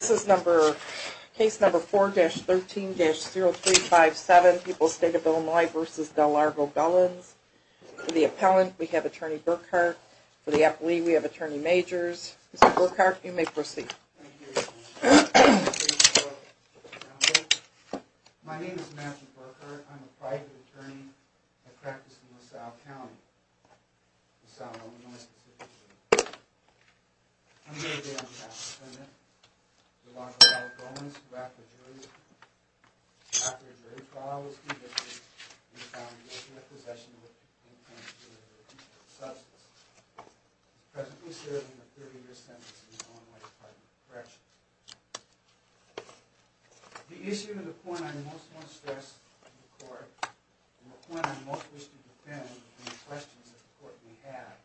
This is number, case number 4-13-0357, People's State of Illinois v. Del Largo Gullens. For the appellant, we have Attorney Burkhardt. For the appellee, we have Attorney Majors. Mr. Burkhardt, you may proceed. My name is Matthew Burkhardt. I'm a private attorney. I practice in LaSalle County, LaSalle, Illinois. I'm here today on behalf of the Senate, Del Largo Gullens, who after a jury trial was convicted and found guilty of possession of an infanticidal substance. I'm presently serving a 30-year sentence in the Illinois Department of Corrections. The issue and the point I most want to stress to the Court, and the point I most wish to defend and the questions that the Court may have,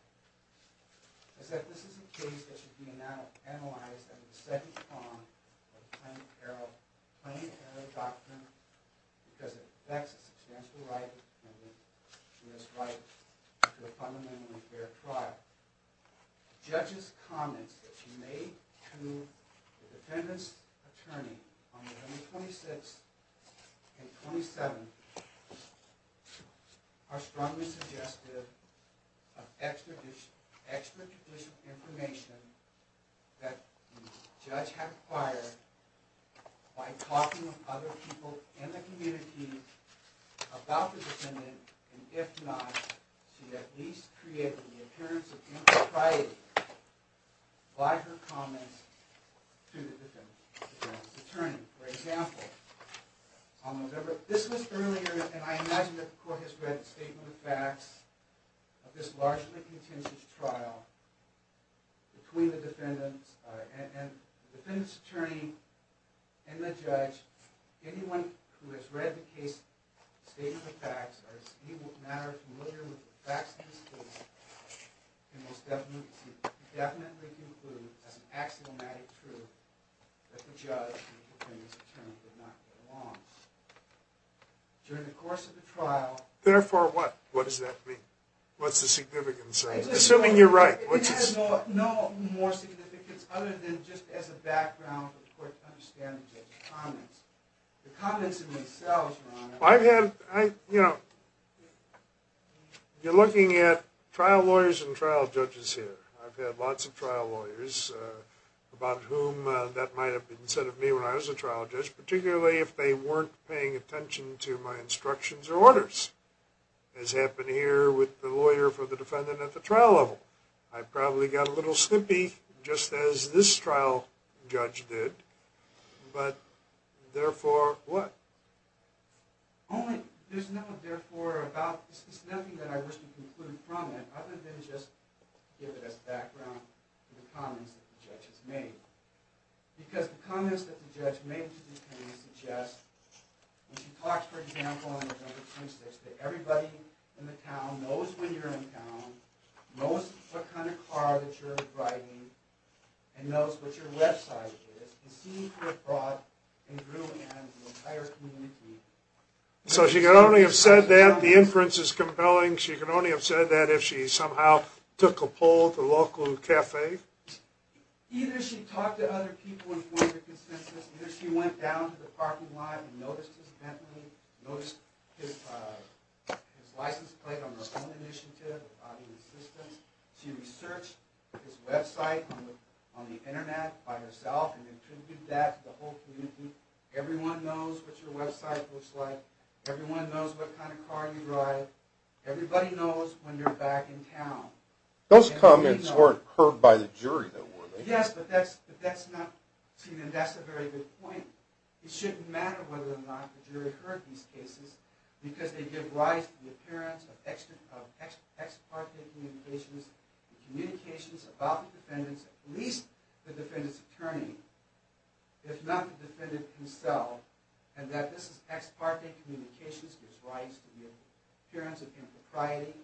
is that this is a case that should be analyzed under the second prong of the Plaintiff Error Doctrine because it affects the substantial right of the defendant to his right to a fundamentally fair trial. The judge's comments that she made to the defendant's attorney on the 26th and 27th are strongly suggestive of extrajudicial information that the judge had acquired by talking to other people in the community about the defendant, and if not, she at least created the appearance of impropriety by her comments to the defendant's attorney. For example, this was earlier, and I imagine that the Court has read the statement of facts of this largely contentious trial between the defendant's attorney and the judge. Anyone who has read the case statement of facts or is in any manner familiar with the facts of this case can most definitely conclude as an axiomatic truth that the judge and the defendant's attorney did not belong. During the course of the trial... Therefore what? What does that mean? What's the significance? Assuming you're right. It has no more significance other than just as a background for the Court to understand the judge's comments. The comments in themselves, Your Honor... I've had, you know, you're looking at trial lawyers and trial judges here. I've had lots of trial lawyers about whom that might have been said of me when I was a trial judge, particularly if they weren't paying attention to my instructions or orders, as happened here with the lawyer for the defendant at the trial level. I probably got a little snippy, just as this trial judge did. But, therefore, what? There's nothing, therefore, about... There's nothing that I wish to conclude from it other than just to give it as background to the comments that the judge has made. Because the comments that the judge made to the attorney suggest... When she talks, for example, on the number 26, that everybody in the town knows when you're in town, knows what kind of car that you're driving, and knows what your website is, can see you're abroad and grew an entire community... So she could only have said that, the inference is compelling, she could only have said that if she somehow took a poll at the local cafe? Either she talked to other people and formed a consensus, either she went down to the parking lot and noticed his Bentley, noticed his license plate on her own initiative, without any assistance, she researched his website on the internet by herself, and contributed that to the whole community. Everyone knows what your website looks like, everyone knows what kind of car you drive, everybody knows when you're back in town. Those comments weren't heard by the jury, though, were they? Yes, but that's not... That's a very good point. It shouldn't matter whether or not the jury heard these cases, because they give rise to the appearance of ex parte communications, communications about the defendants, at least the defendants' attorney, if not the defendant himself, and that this ex parte communications gives rise to the appearance of impropriety.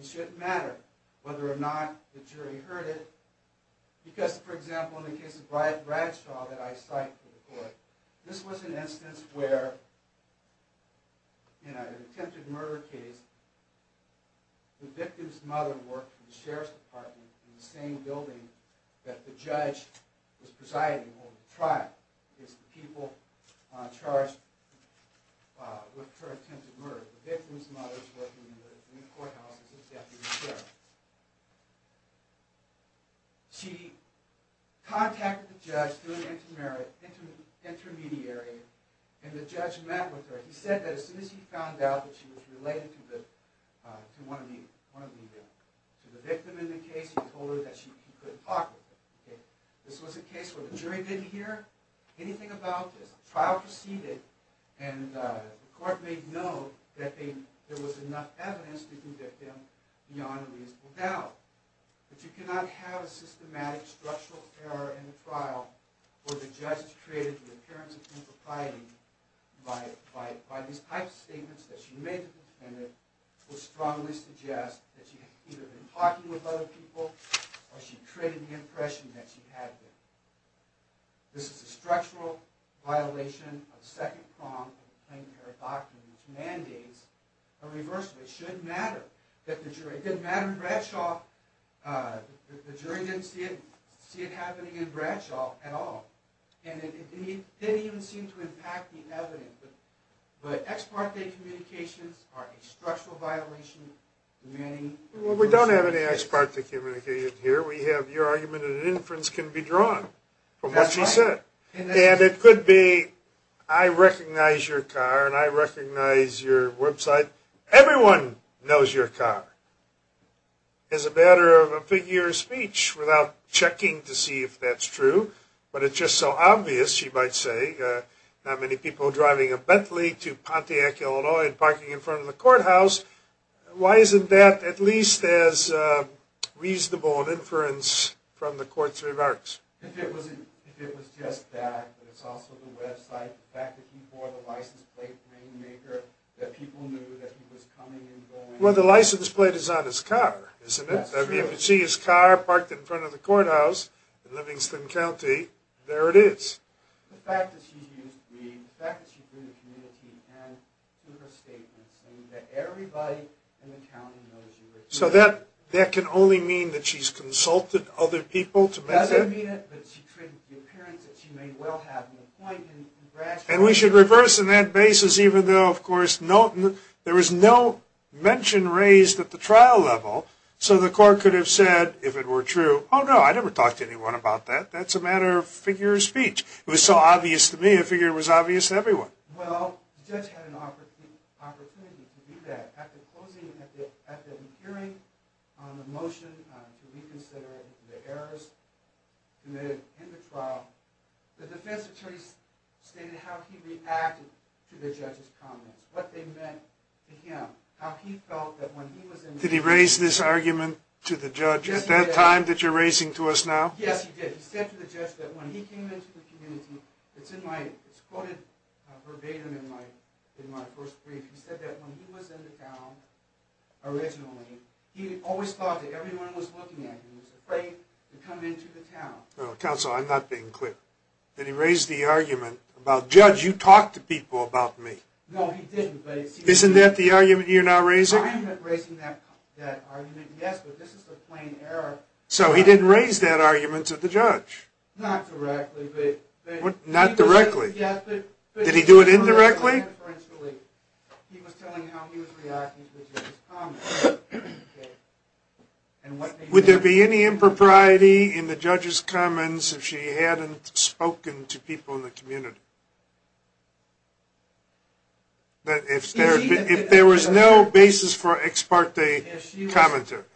It shouldn't matter whether or not the jury heard it, because, for example, in the case of Bradshaw that I cite for the court, this was an instance where, in an attempted murder case, the victim's mother worked for the sheriff's department in the same building that the judge was presiding over the trial, against the people charged with her attempted murder. The victim's mother was working in the courthouse as his deputy sheriff. She contacted the judge through an intermediary, and the judge met with her. He said that as soon as he found out that she was related to the victim in the case, he told her that she couldn't talk with him. This was a case where the jury didn't hear anything about this. The trial proceeded, and the court made known that there was enough evidence to convict him beyond a reasonable doubt. But you cannot have a systematic structural error in the trial where the judge has created the appearance of impropriety by these type of statements that she made to the defendant will strongly suggest that she had either been talking with other people or she created the impression that she had been. This is a structural violation of the second prong of the Plain Fair Doctrine which mandates a reversal. It shouldn't matter that the jury didn't matter. In Bradshaw, the jury didn't see it happening in Bradshaw at all, and it didn't even seem to impact the evidence. But ex parte communications are a structural violation. Well, we don't have any ex parte communication here. We have your argument that an inference can be drawn from what you said. And it could be, I recognize your car, and I recognize your website. Everyone knows your car. It's a matter of a figure of speech without checking to see if that's true. But it's just so obvious, she might say, not many people driving a Bentley to Pontiac, Illinois, and parking in front of the courthouse. Why isn't that at least as reasonable an inference from the court's remarks? If it was just that, but it's also the website, the fact that he bore the license plate name maker, that people knew that he was coming and going. Well, the license plate is on his car, isn't it? If you could see his car parked in front of the courthouse in Livingston County, there it is. The fact that she's used weed, the fact that she's been in the community, and through her statements, and that everybody in the county knows you were here. So that can only mean that she's consulted other people to make that? Doesn't mean it, but the appearance that she may well have, And we should reverse on that basis, even though, of course, there was no mention raised at the trial level, so the court could have said, if it were true, oh, no, I never talked to anyone about that. That's a matter of figure of speech. It was so obvious to me, I figured it was obvious to everyone. Well, the judge had an opportunity to do that. At the hearing on the motion to reconsider the errors committed in the trial, the defense attorney stated how he reacted to the judge's comments, what they meant to him, how he felt that when he was in the town. Did he raise this argument to the judge at that time that you're raising to us now? Yes, he did. He said to the judge that when he came into the community, it's quoted verbatim in my first brief, he said that when he was in the town originally, he always thought that everyone was looking at him, was afraid to come into the town. Counsel, I'm not being clear. Did he raise the argument about, judge, you talk to people about me? No, he didn't. Isn't that the argument you're now raising? I'm not raising that argument. Yes, but this is a plain error. So he didn't raise that argument to the judge? Not directly. Not directly? Did he do it indirectly? He was telling how he was reacting to the judge's comments. Would there be any impropriety in the judge's comments if she hadn't spoken to people in the community? If there was no basis for ex parte commentary. If she was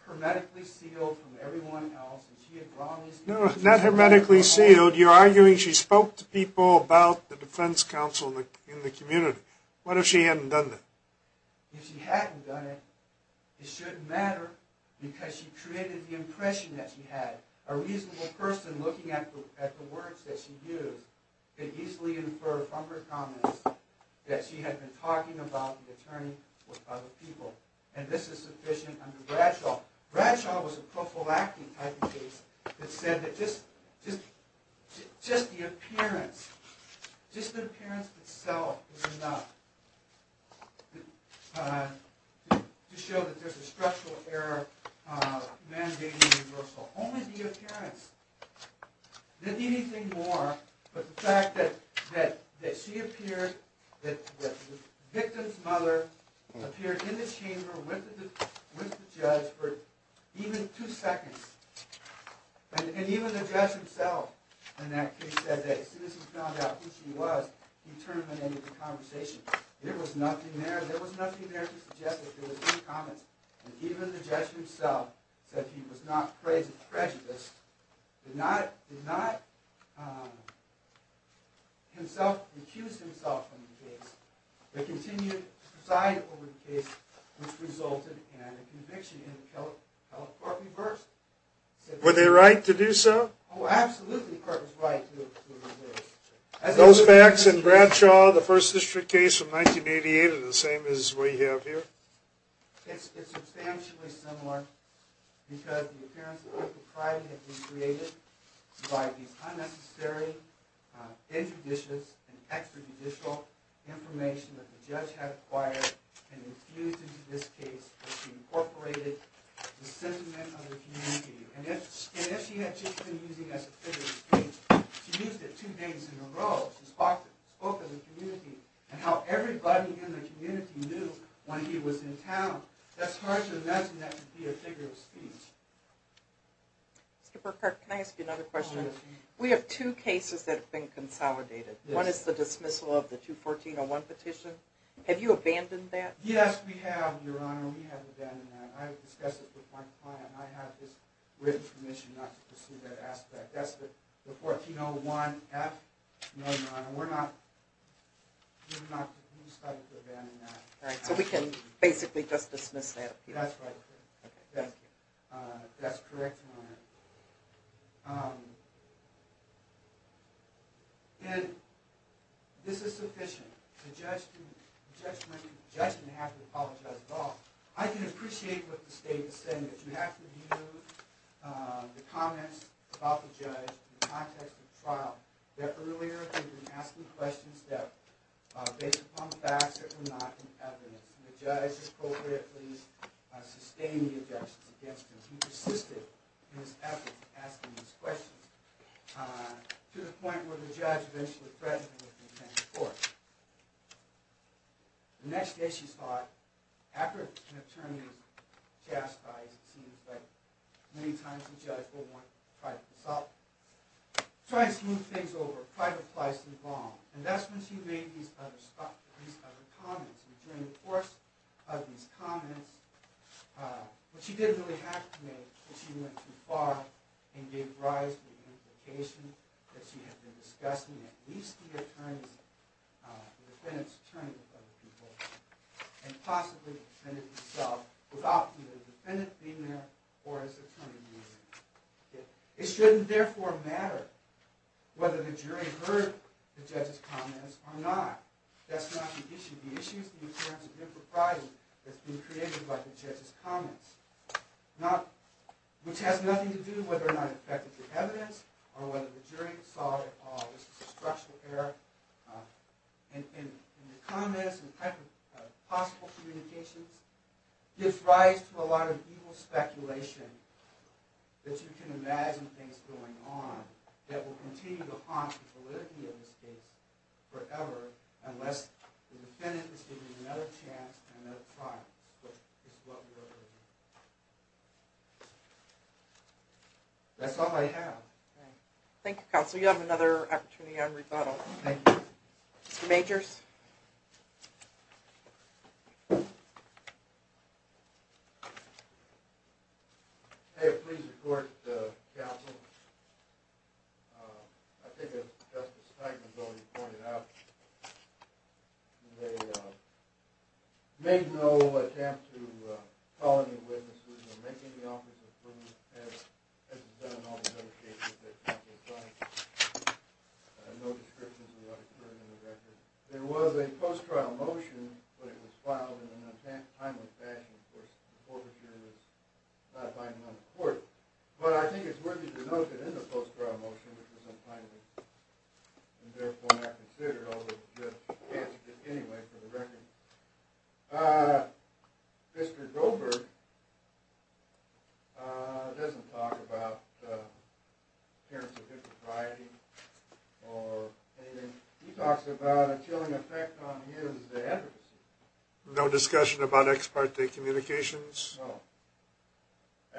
hermetically sealed from everyone else and she had promised... No, not hermetically sealed. You're arguing she spoke to people about the defense counsel in the community. What if she hadn't done that? If she hadn't done it, it shouldn't matter because she created the impression that she had. A reasonable person looking at the words that she used could easily infer from her comments that she had been talking about the attorney with other people. And this is sufficient under Bradshaw. Bradshaw was a prophylactic type of case that said that just the appearance, just the appearance itself was enough to show that there's a structural error mandating reversal. Only the appearance. Didn't need anything more but the fact that she appeared, that the victim's mother appeared in the chamber with the judge for even two seconds. And even the judge himself in that case said that as soon as he found out who she was he terminated the conversation. There was nothing there. There was nothing there to suggest that there was any comments. And even the judge himself said he was not prejudiced. Did not, did not himself, recuse himself from the case. But continued to preside over the case which resulted in a conviction in the California court reversed. Were they right to do so? Oh, absolutely the court was right to reverse. Those facts in Bradshaw, the First District case of 1988 are the same as we have here? It's substantially similar because the appearance that people tried to recreate it by the unnecessary, injudicious, and extrajudicial information that the judge had acquired and infused into this case incorporated the sentiment of the community. And if she had just been using it as a figure of speech she used it two days in a row. She spoke of the community and how everybody in the community knew when he was in town. That's hard to imagine that could be a figure of speech. Mr. Burkert, can I ask you another question? We have two cases that have been consolidated. One is the dismissal of the 214-01 petition. Have you abandoned that? Yes, we have, Your Honor. We have abandoned that. I have discussed it with my client. I have his written permission not to pursue that aspect. That's the 14-01-F. No, Your Honor, we're not... We decided to abandon that. All right, so we can basically just dismiss that? That's right, Your Honor. Okay, thank you. That's correct, Your Honor. And this is sufficient. The judge didn't have to apologize at all. I can appreciate what the state is saying that you have to use the comments about the judge in the context of the trial. Earlier, they've been asking questions that are based upon facts that were not in evidence. The judge appropriately sustained the objections against him. He persisted in his efforts in asking these questions with contempt of court. The next day, she thought, after an attorney was chastised, it seems like many times a judge will want to pry this up, try and smooth things over, pry the place involved. And that's when she made these other comments. And during the course of these comments, what she didn't really have to make was she went too far and gave rise to the implication that she had been discussing at least the defendant's attorney with other people and possibly the defendant himself without the defendant being there or his attorney being there. It shouldn't therefore matter whether the jury heard the judge's comments or not. That's not the issue. The issue is the occurrence of impropriety that's been created by the judge's comments, which has nothing to do with whether or not it affected the evidence or whether the jury saw it at all. This is a structural error. And the comments and possible communications gives rise to a lot of evil speculation that you can imagine things going on that will continue to haunt the validity of this case forever unless the defendant is given another chance and another trial, which is what we're hoping. That's all I have. Thank you, Counsel. You have another opportunity on rebuttal. Thank you. Mr. Majors. May it please the Court, Counsel, I think as Justice Knighton has already pointed out, they made no attempt to call any witnesses or make any offers of proof as has been done in all the other cases that have been tried. No descriptions of what occurred in the record. There was a post-trial motion, but it was filed in an untimely fashion. Of course, the court procedure was not binding on the court. But I think it's worthy to note that in the post-trial motion, which was untimely and therefore not considered, although it was just canceled anyway for the record, Mr. Goldberg doesn't talk about the appearance of hypocrisy or anything. He talks about a chilling effect on his advocacy. No discussion about ex parte communications? No.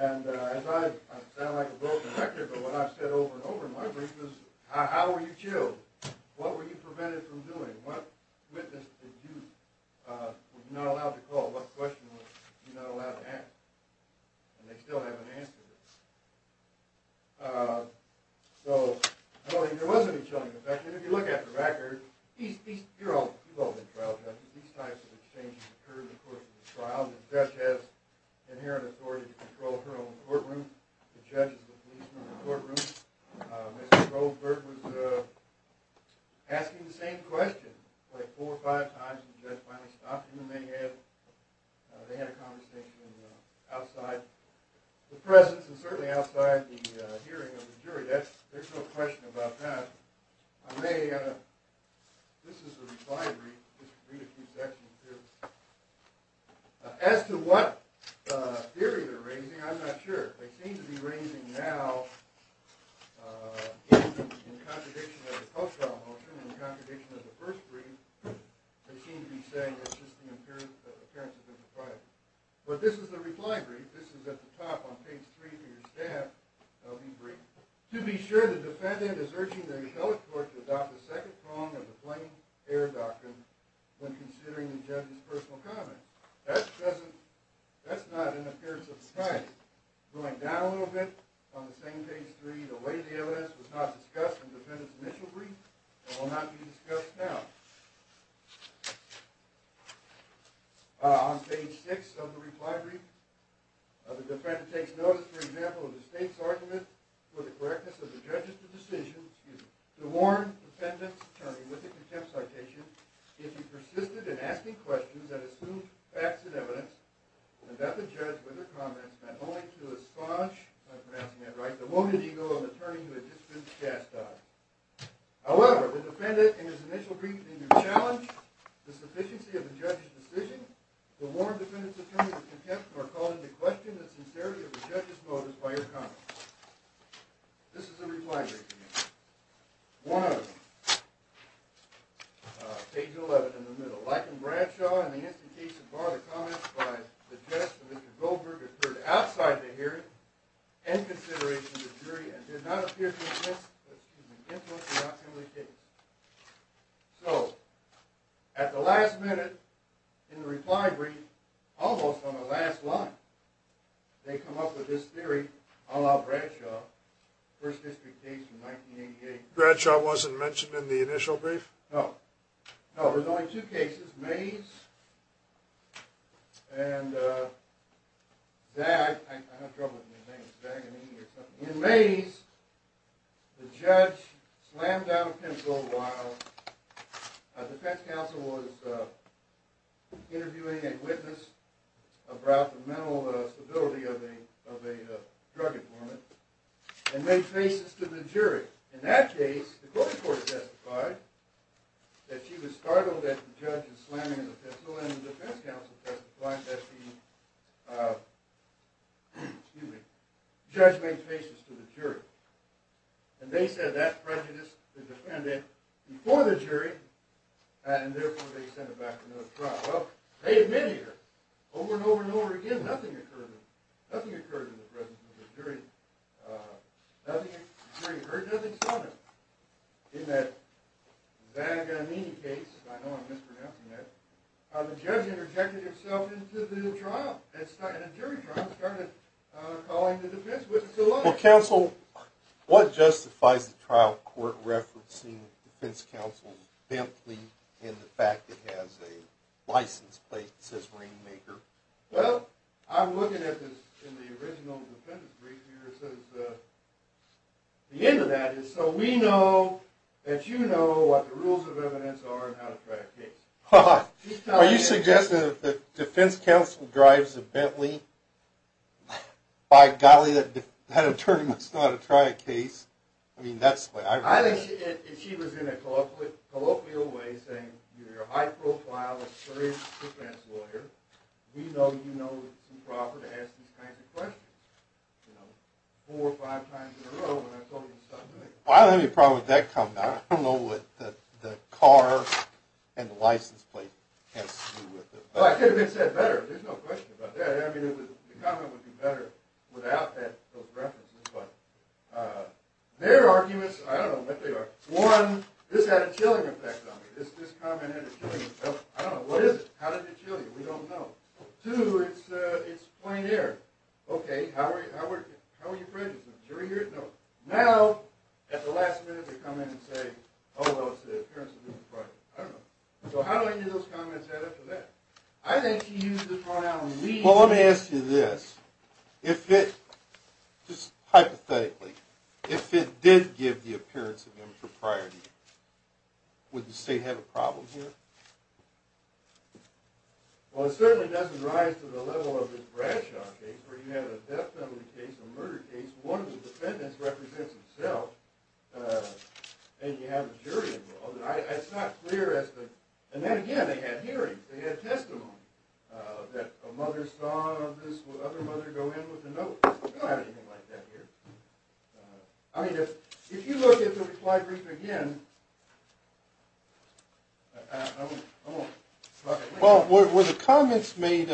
And I sound like a broken record, but what I've said over and over in my briefs is, how were you killed? What were you prevented from doing? What witness did you not allow to call? What question were you not allowed to ask? And they still haven't answered it. So there was a chilling effect. If you look at the record, these types of exchanges occurred in the course of the trial. The judge has inherent authority to control her own courtroom. The judge is the policeman in the courtroom. Mr. Goldberg was asking the same question four or five times when the judge finally stopped him. They had a conversation outside the presence and certainly outside the hearing of the jury. There's no question about that. I may, this is a reply brief, just read a few sections here. As to what theory they're raising, I'm not sure. They seem to be raising now, in contradiction of the post-trial motion, in contradiction of the first brief, they seem to be saying it's just an appearance of impropriety. But this is the reply brief. This is at the top on page three for your staff. That'll be brief. To be sure, the defendant is urging the rebellic court to adopt the second prong of the plain air doctrine when considering the judge's personal comment. That's not an appearance of impropriety. Going down a little bit on the same page three, the way the evidence was not discussed in the defendant's initial brief and will not be discussed now. On page six of the reply brief, the defendant takes notice, for example, of the state's argument for the correctness of the judge's decision to warn the defendant's attorney with a contempt citation if he persisted in asking questions that assumed facts and evidence and that the judge, with her comments, meant only to esponge, if I'm pronouncing that right, the wounded ego of an attorney who had just been chastised. However, the defendant, in his initial brief, seemed to challenge the sufficiency of the judge's decision to warn the defendant's attorney with contempt for calling into question the sincerity of the judge's motives by her comments. This is the reply brief again. One of them. Page 11 in the middle. Like in Bradshaw, in the instant case that barred the comments by the judge, Mr. Goldberg referred to outside the hearing and consideration of the jury and did not appear to have influenced the documentation. So, at the last minute in the reply brief, almost on the last line, they come up with this theory, a la Bradshaw, first district case from 1988. Bradshaw wasn't mentioned in the initial brief? No. No, there's only two cases, Mays and Zag. I have trouble with new names. Zagamy or something. In Mays, the judge slammed down a pencil while the defense counsel was interviewing a witness about the mental stability of a drug informant and made faces to the jury. In that case, the court testified that she was startled at the judge's slamming of the pencil and the defense counsel testified that the judge made faces to the jury. And they said that prejudiced the defendant before the jury and therefore they sent her back to another trial. Well, they admitted her. Over and over and over again, nothing occurred in the presence of the jury. The jury heard nothing, saw nothing. In that Zagamy case, I know I'm mispronouncing that, the judge interjected herself into the trial. The jury trial started calling the defense witness alive. Well, counsel, what justifies the trial court referencing the defense counsel's bent plea and the fact it has a license plate that says Rainmaker? Well, I'm looking at this in the original defendant's brief here. The end of that is so we know that you know what the rules of evidence are and how to try a case. Are you suggesting that the defense counsel drives a Bentley? By golly, that attorney must know how to try a case. I mean, that's what I read. If she was in a colloquial way saying, you're a high-profile, experienced defense lawyer, we know you know it's improper to ask these kinds of questions four or five times in a row when I've told you something. Well, I don't have any problem with that comment. I don't know what the car and the license plate has to do with it. Well, I could have been said better. There's no question about that. I mean, the comment would be better without those references. But their arguments, I don't know what they are. One, this had a chilling effect on me. This comment had a chilling effect. I don't know. What is it? How did it chill you? We don't know. Two, it's plain air. Okay, how are you prejudiced? Now, at the last minute, they come in and say, oh, well, it's the appearance of impropriety. I don't know. So how do I get those comments added to that? I think she used the pronoun we. Well, let me ask you this. If it, just hypothetically, if it did give the appearance of impropriety, would the state have a problem here? Well, it certainly doesn't rise to the level of this Bradshaw case where you have a death penalty case, a murder case, one of the defendants represents himself, and you have a jury involved. It's not clear as to, and then again, they had hearings. They had testimony that a mother saw this other mother go in with a note. We don't have anything like that here. I mean, if you look at the reply brief again. Well, were the comments made,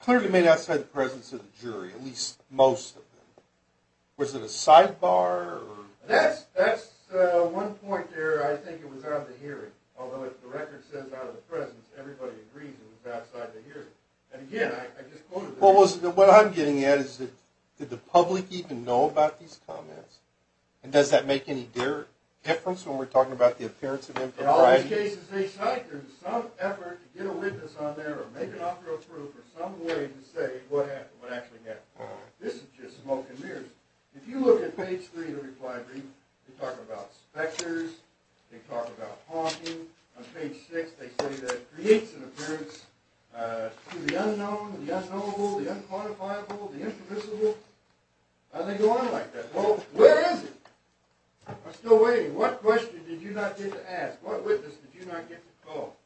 clearly made outside the presence of the jury, at least most of them? Was it a sidebar? That's one point there. I think it was out of the hearing, although if the record says out of the presence, everybody agrees it was outside the hearing. What I'm getting at is, did the public even know about these comments? And does that make any difference when we're talking about the appearance of impropriety? In all these cases, they cite some effort to get a witness on there or make an offer of proof or some way to say what actually happened. This is just smoke and mirrors. If you look at page three of the reply brief, they talk about specters, they talk about haunting. On page six, they say that it creates an appearance to the unknown, the unknowable, the unquantifiable, the impermissible, and they go on like that. Well, where is it? I'm still waiting. What question did you not get to ask? What witness did you not get to call?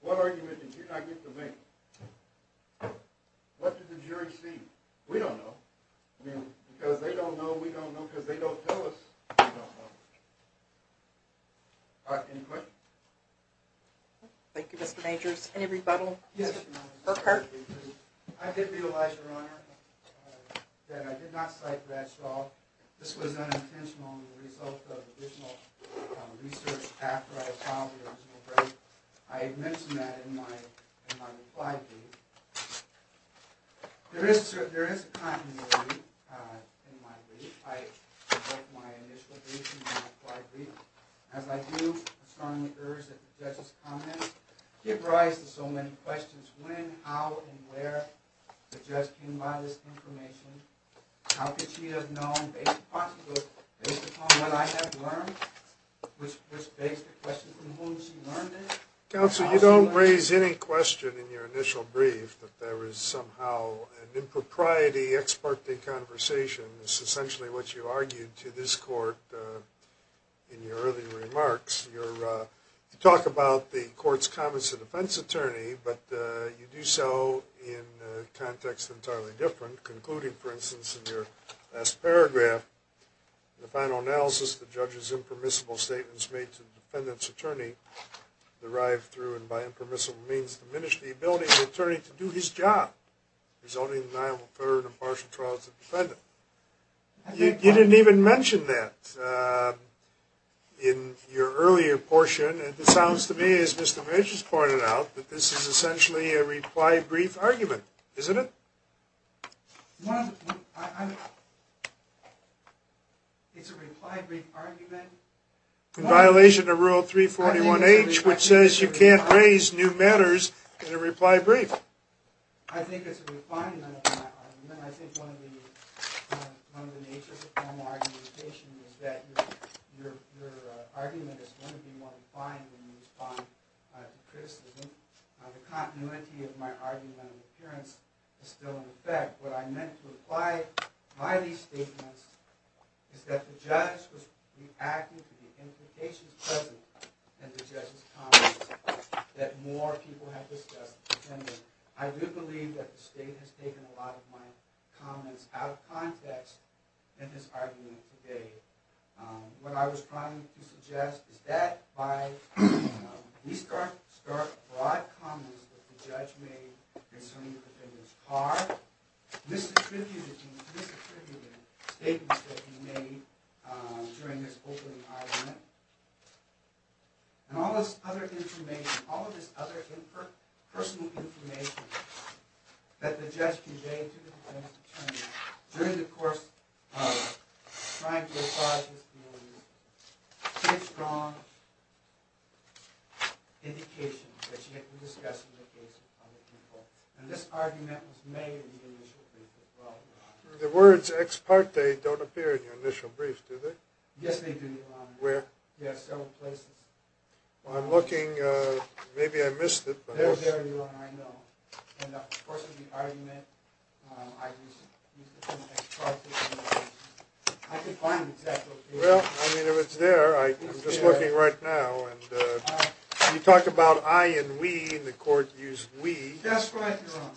What argument did you not get to make? What did the jury see? We don't know. I mean, because they don't know, we don't know, because they don't tell us we don't know. All right, any questions? Thank you, Mr. Majors. Any rebuttal? Yes, Your Honor. Burkhart? I did realize, Your Honor, that I did not cite Bradshaw. This was unintentional as a result of additional research after I filed the original brief. I had mentioned that in my reply brief. There is continuity in my brief. As I do, I strongly urge that the judge's comments give rise to so many questions. When, how, and where the judge came by this information, how could she have known, based upon what I have learned, which begs the question from whom she learned it. Counsel, you don't raise any question in your initial brief that there is somehow an impropriety, ex parte conversation. It's essentially what you argued to this court in your earlier remarks. You talk about the court's comments to the defense attorney, but you do so in a context entirely different, concluding, for instance, in your last paragraph, in the final analysis, the judge's impermissible statements made to the defendant's attorney, derived through and by impermissible means, diminish the ability of the attorney to do his job, resulting in deniable third and impartial trials of the defendant. You didn't even mention that in your earlier portion, and it sounds to me, as Mr. Mitch has pointed out, that this is essentially a reply brief argument, isn't it? It's a reply brief argument. In violation of Rule 341H, which says you can't raise new matters in a reply brief. I think it's a refinement of my argument. I think one of the natures of formal argumentation is that your argument is going to be more refined when you respond to criticism. The continuity of my argument of appearance is still in effect. What I meant to imply by these statements is that the judge was reacting to the implications present in the judge's comments that more people have discussed the defendant. I do believe that the state has taken a lot of my comments out of context in this argument today. What I was trying to suggest is that by restarting broad comments that the judge made concerning the defendant's car, misattributing statements that he made during this opening argument, and all this other information, all of this other personal information that the judge conveyed to the defendant's attorney during the course of trying to apologize to me, is a very strong indication that she had been discussing the case with other people. And this argument was made in the initial brief as well. The words ex parte don't appear in your initial brief, do they? Yes, they do, Your Honor. Where? Yes, several places. Well, I'm looking. Maybe I missed it. They're there, Your Honor, I know. In the course of the argument, I used the term ex parte. I can find the exact location. Well, I mean, if it's there, I'm just looking right now. You talk about I and we, and the court used we. That's right, Your Honor.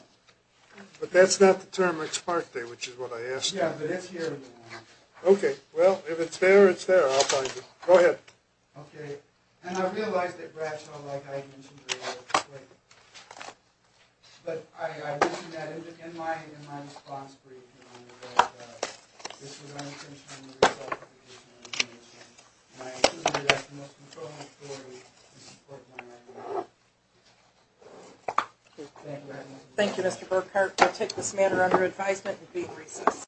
But that's not the term ex parte, which is what I asked you. Yeah, but it's here, Your Honor. Okay, well, if it's there, it's there. I'll find it. Go ahead. Okay. And I realize that Bradshaw, like I mentioned earlier, but I mentioned that in my response brief, Your Honor, that this was unintentional recidivization of information. And I assume you have the most controlling authority to support my argument. Thank you, Your Honor. Thank you, Mr. Burkhart. I take this matter under advisement and be in recess.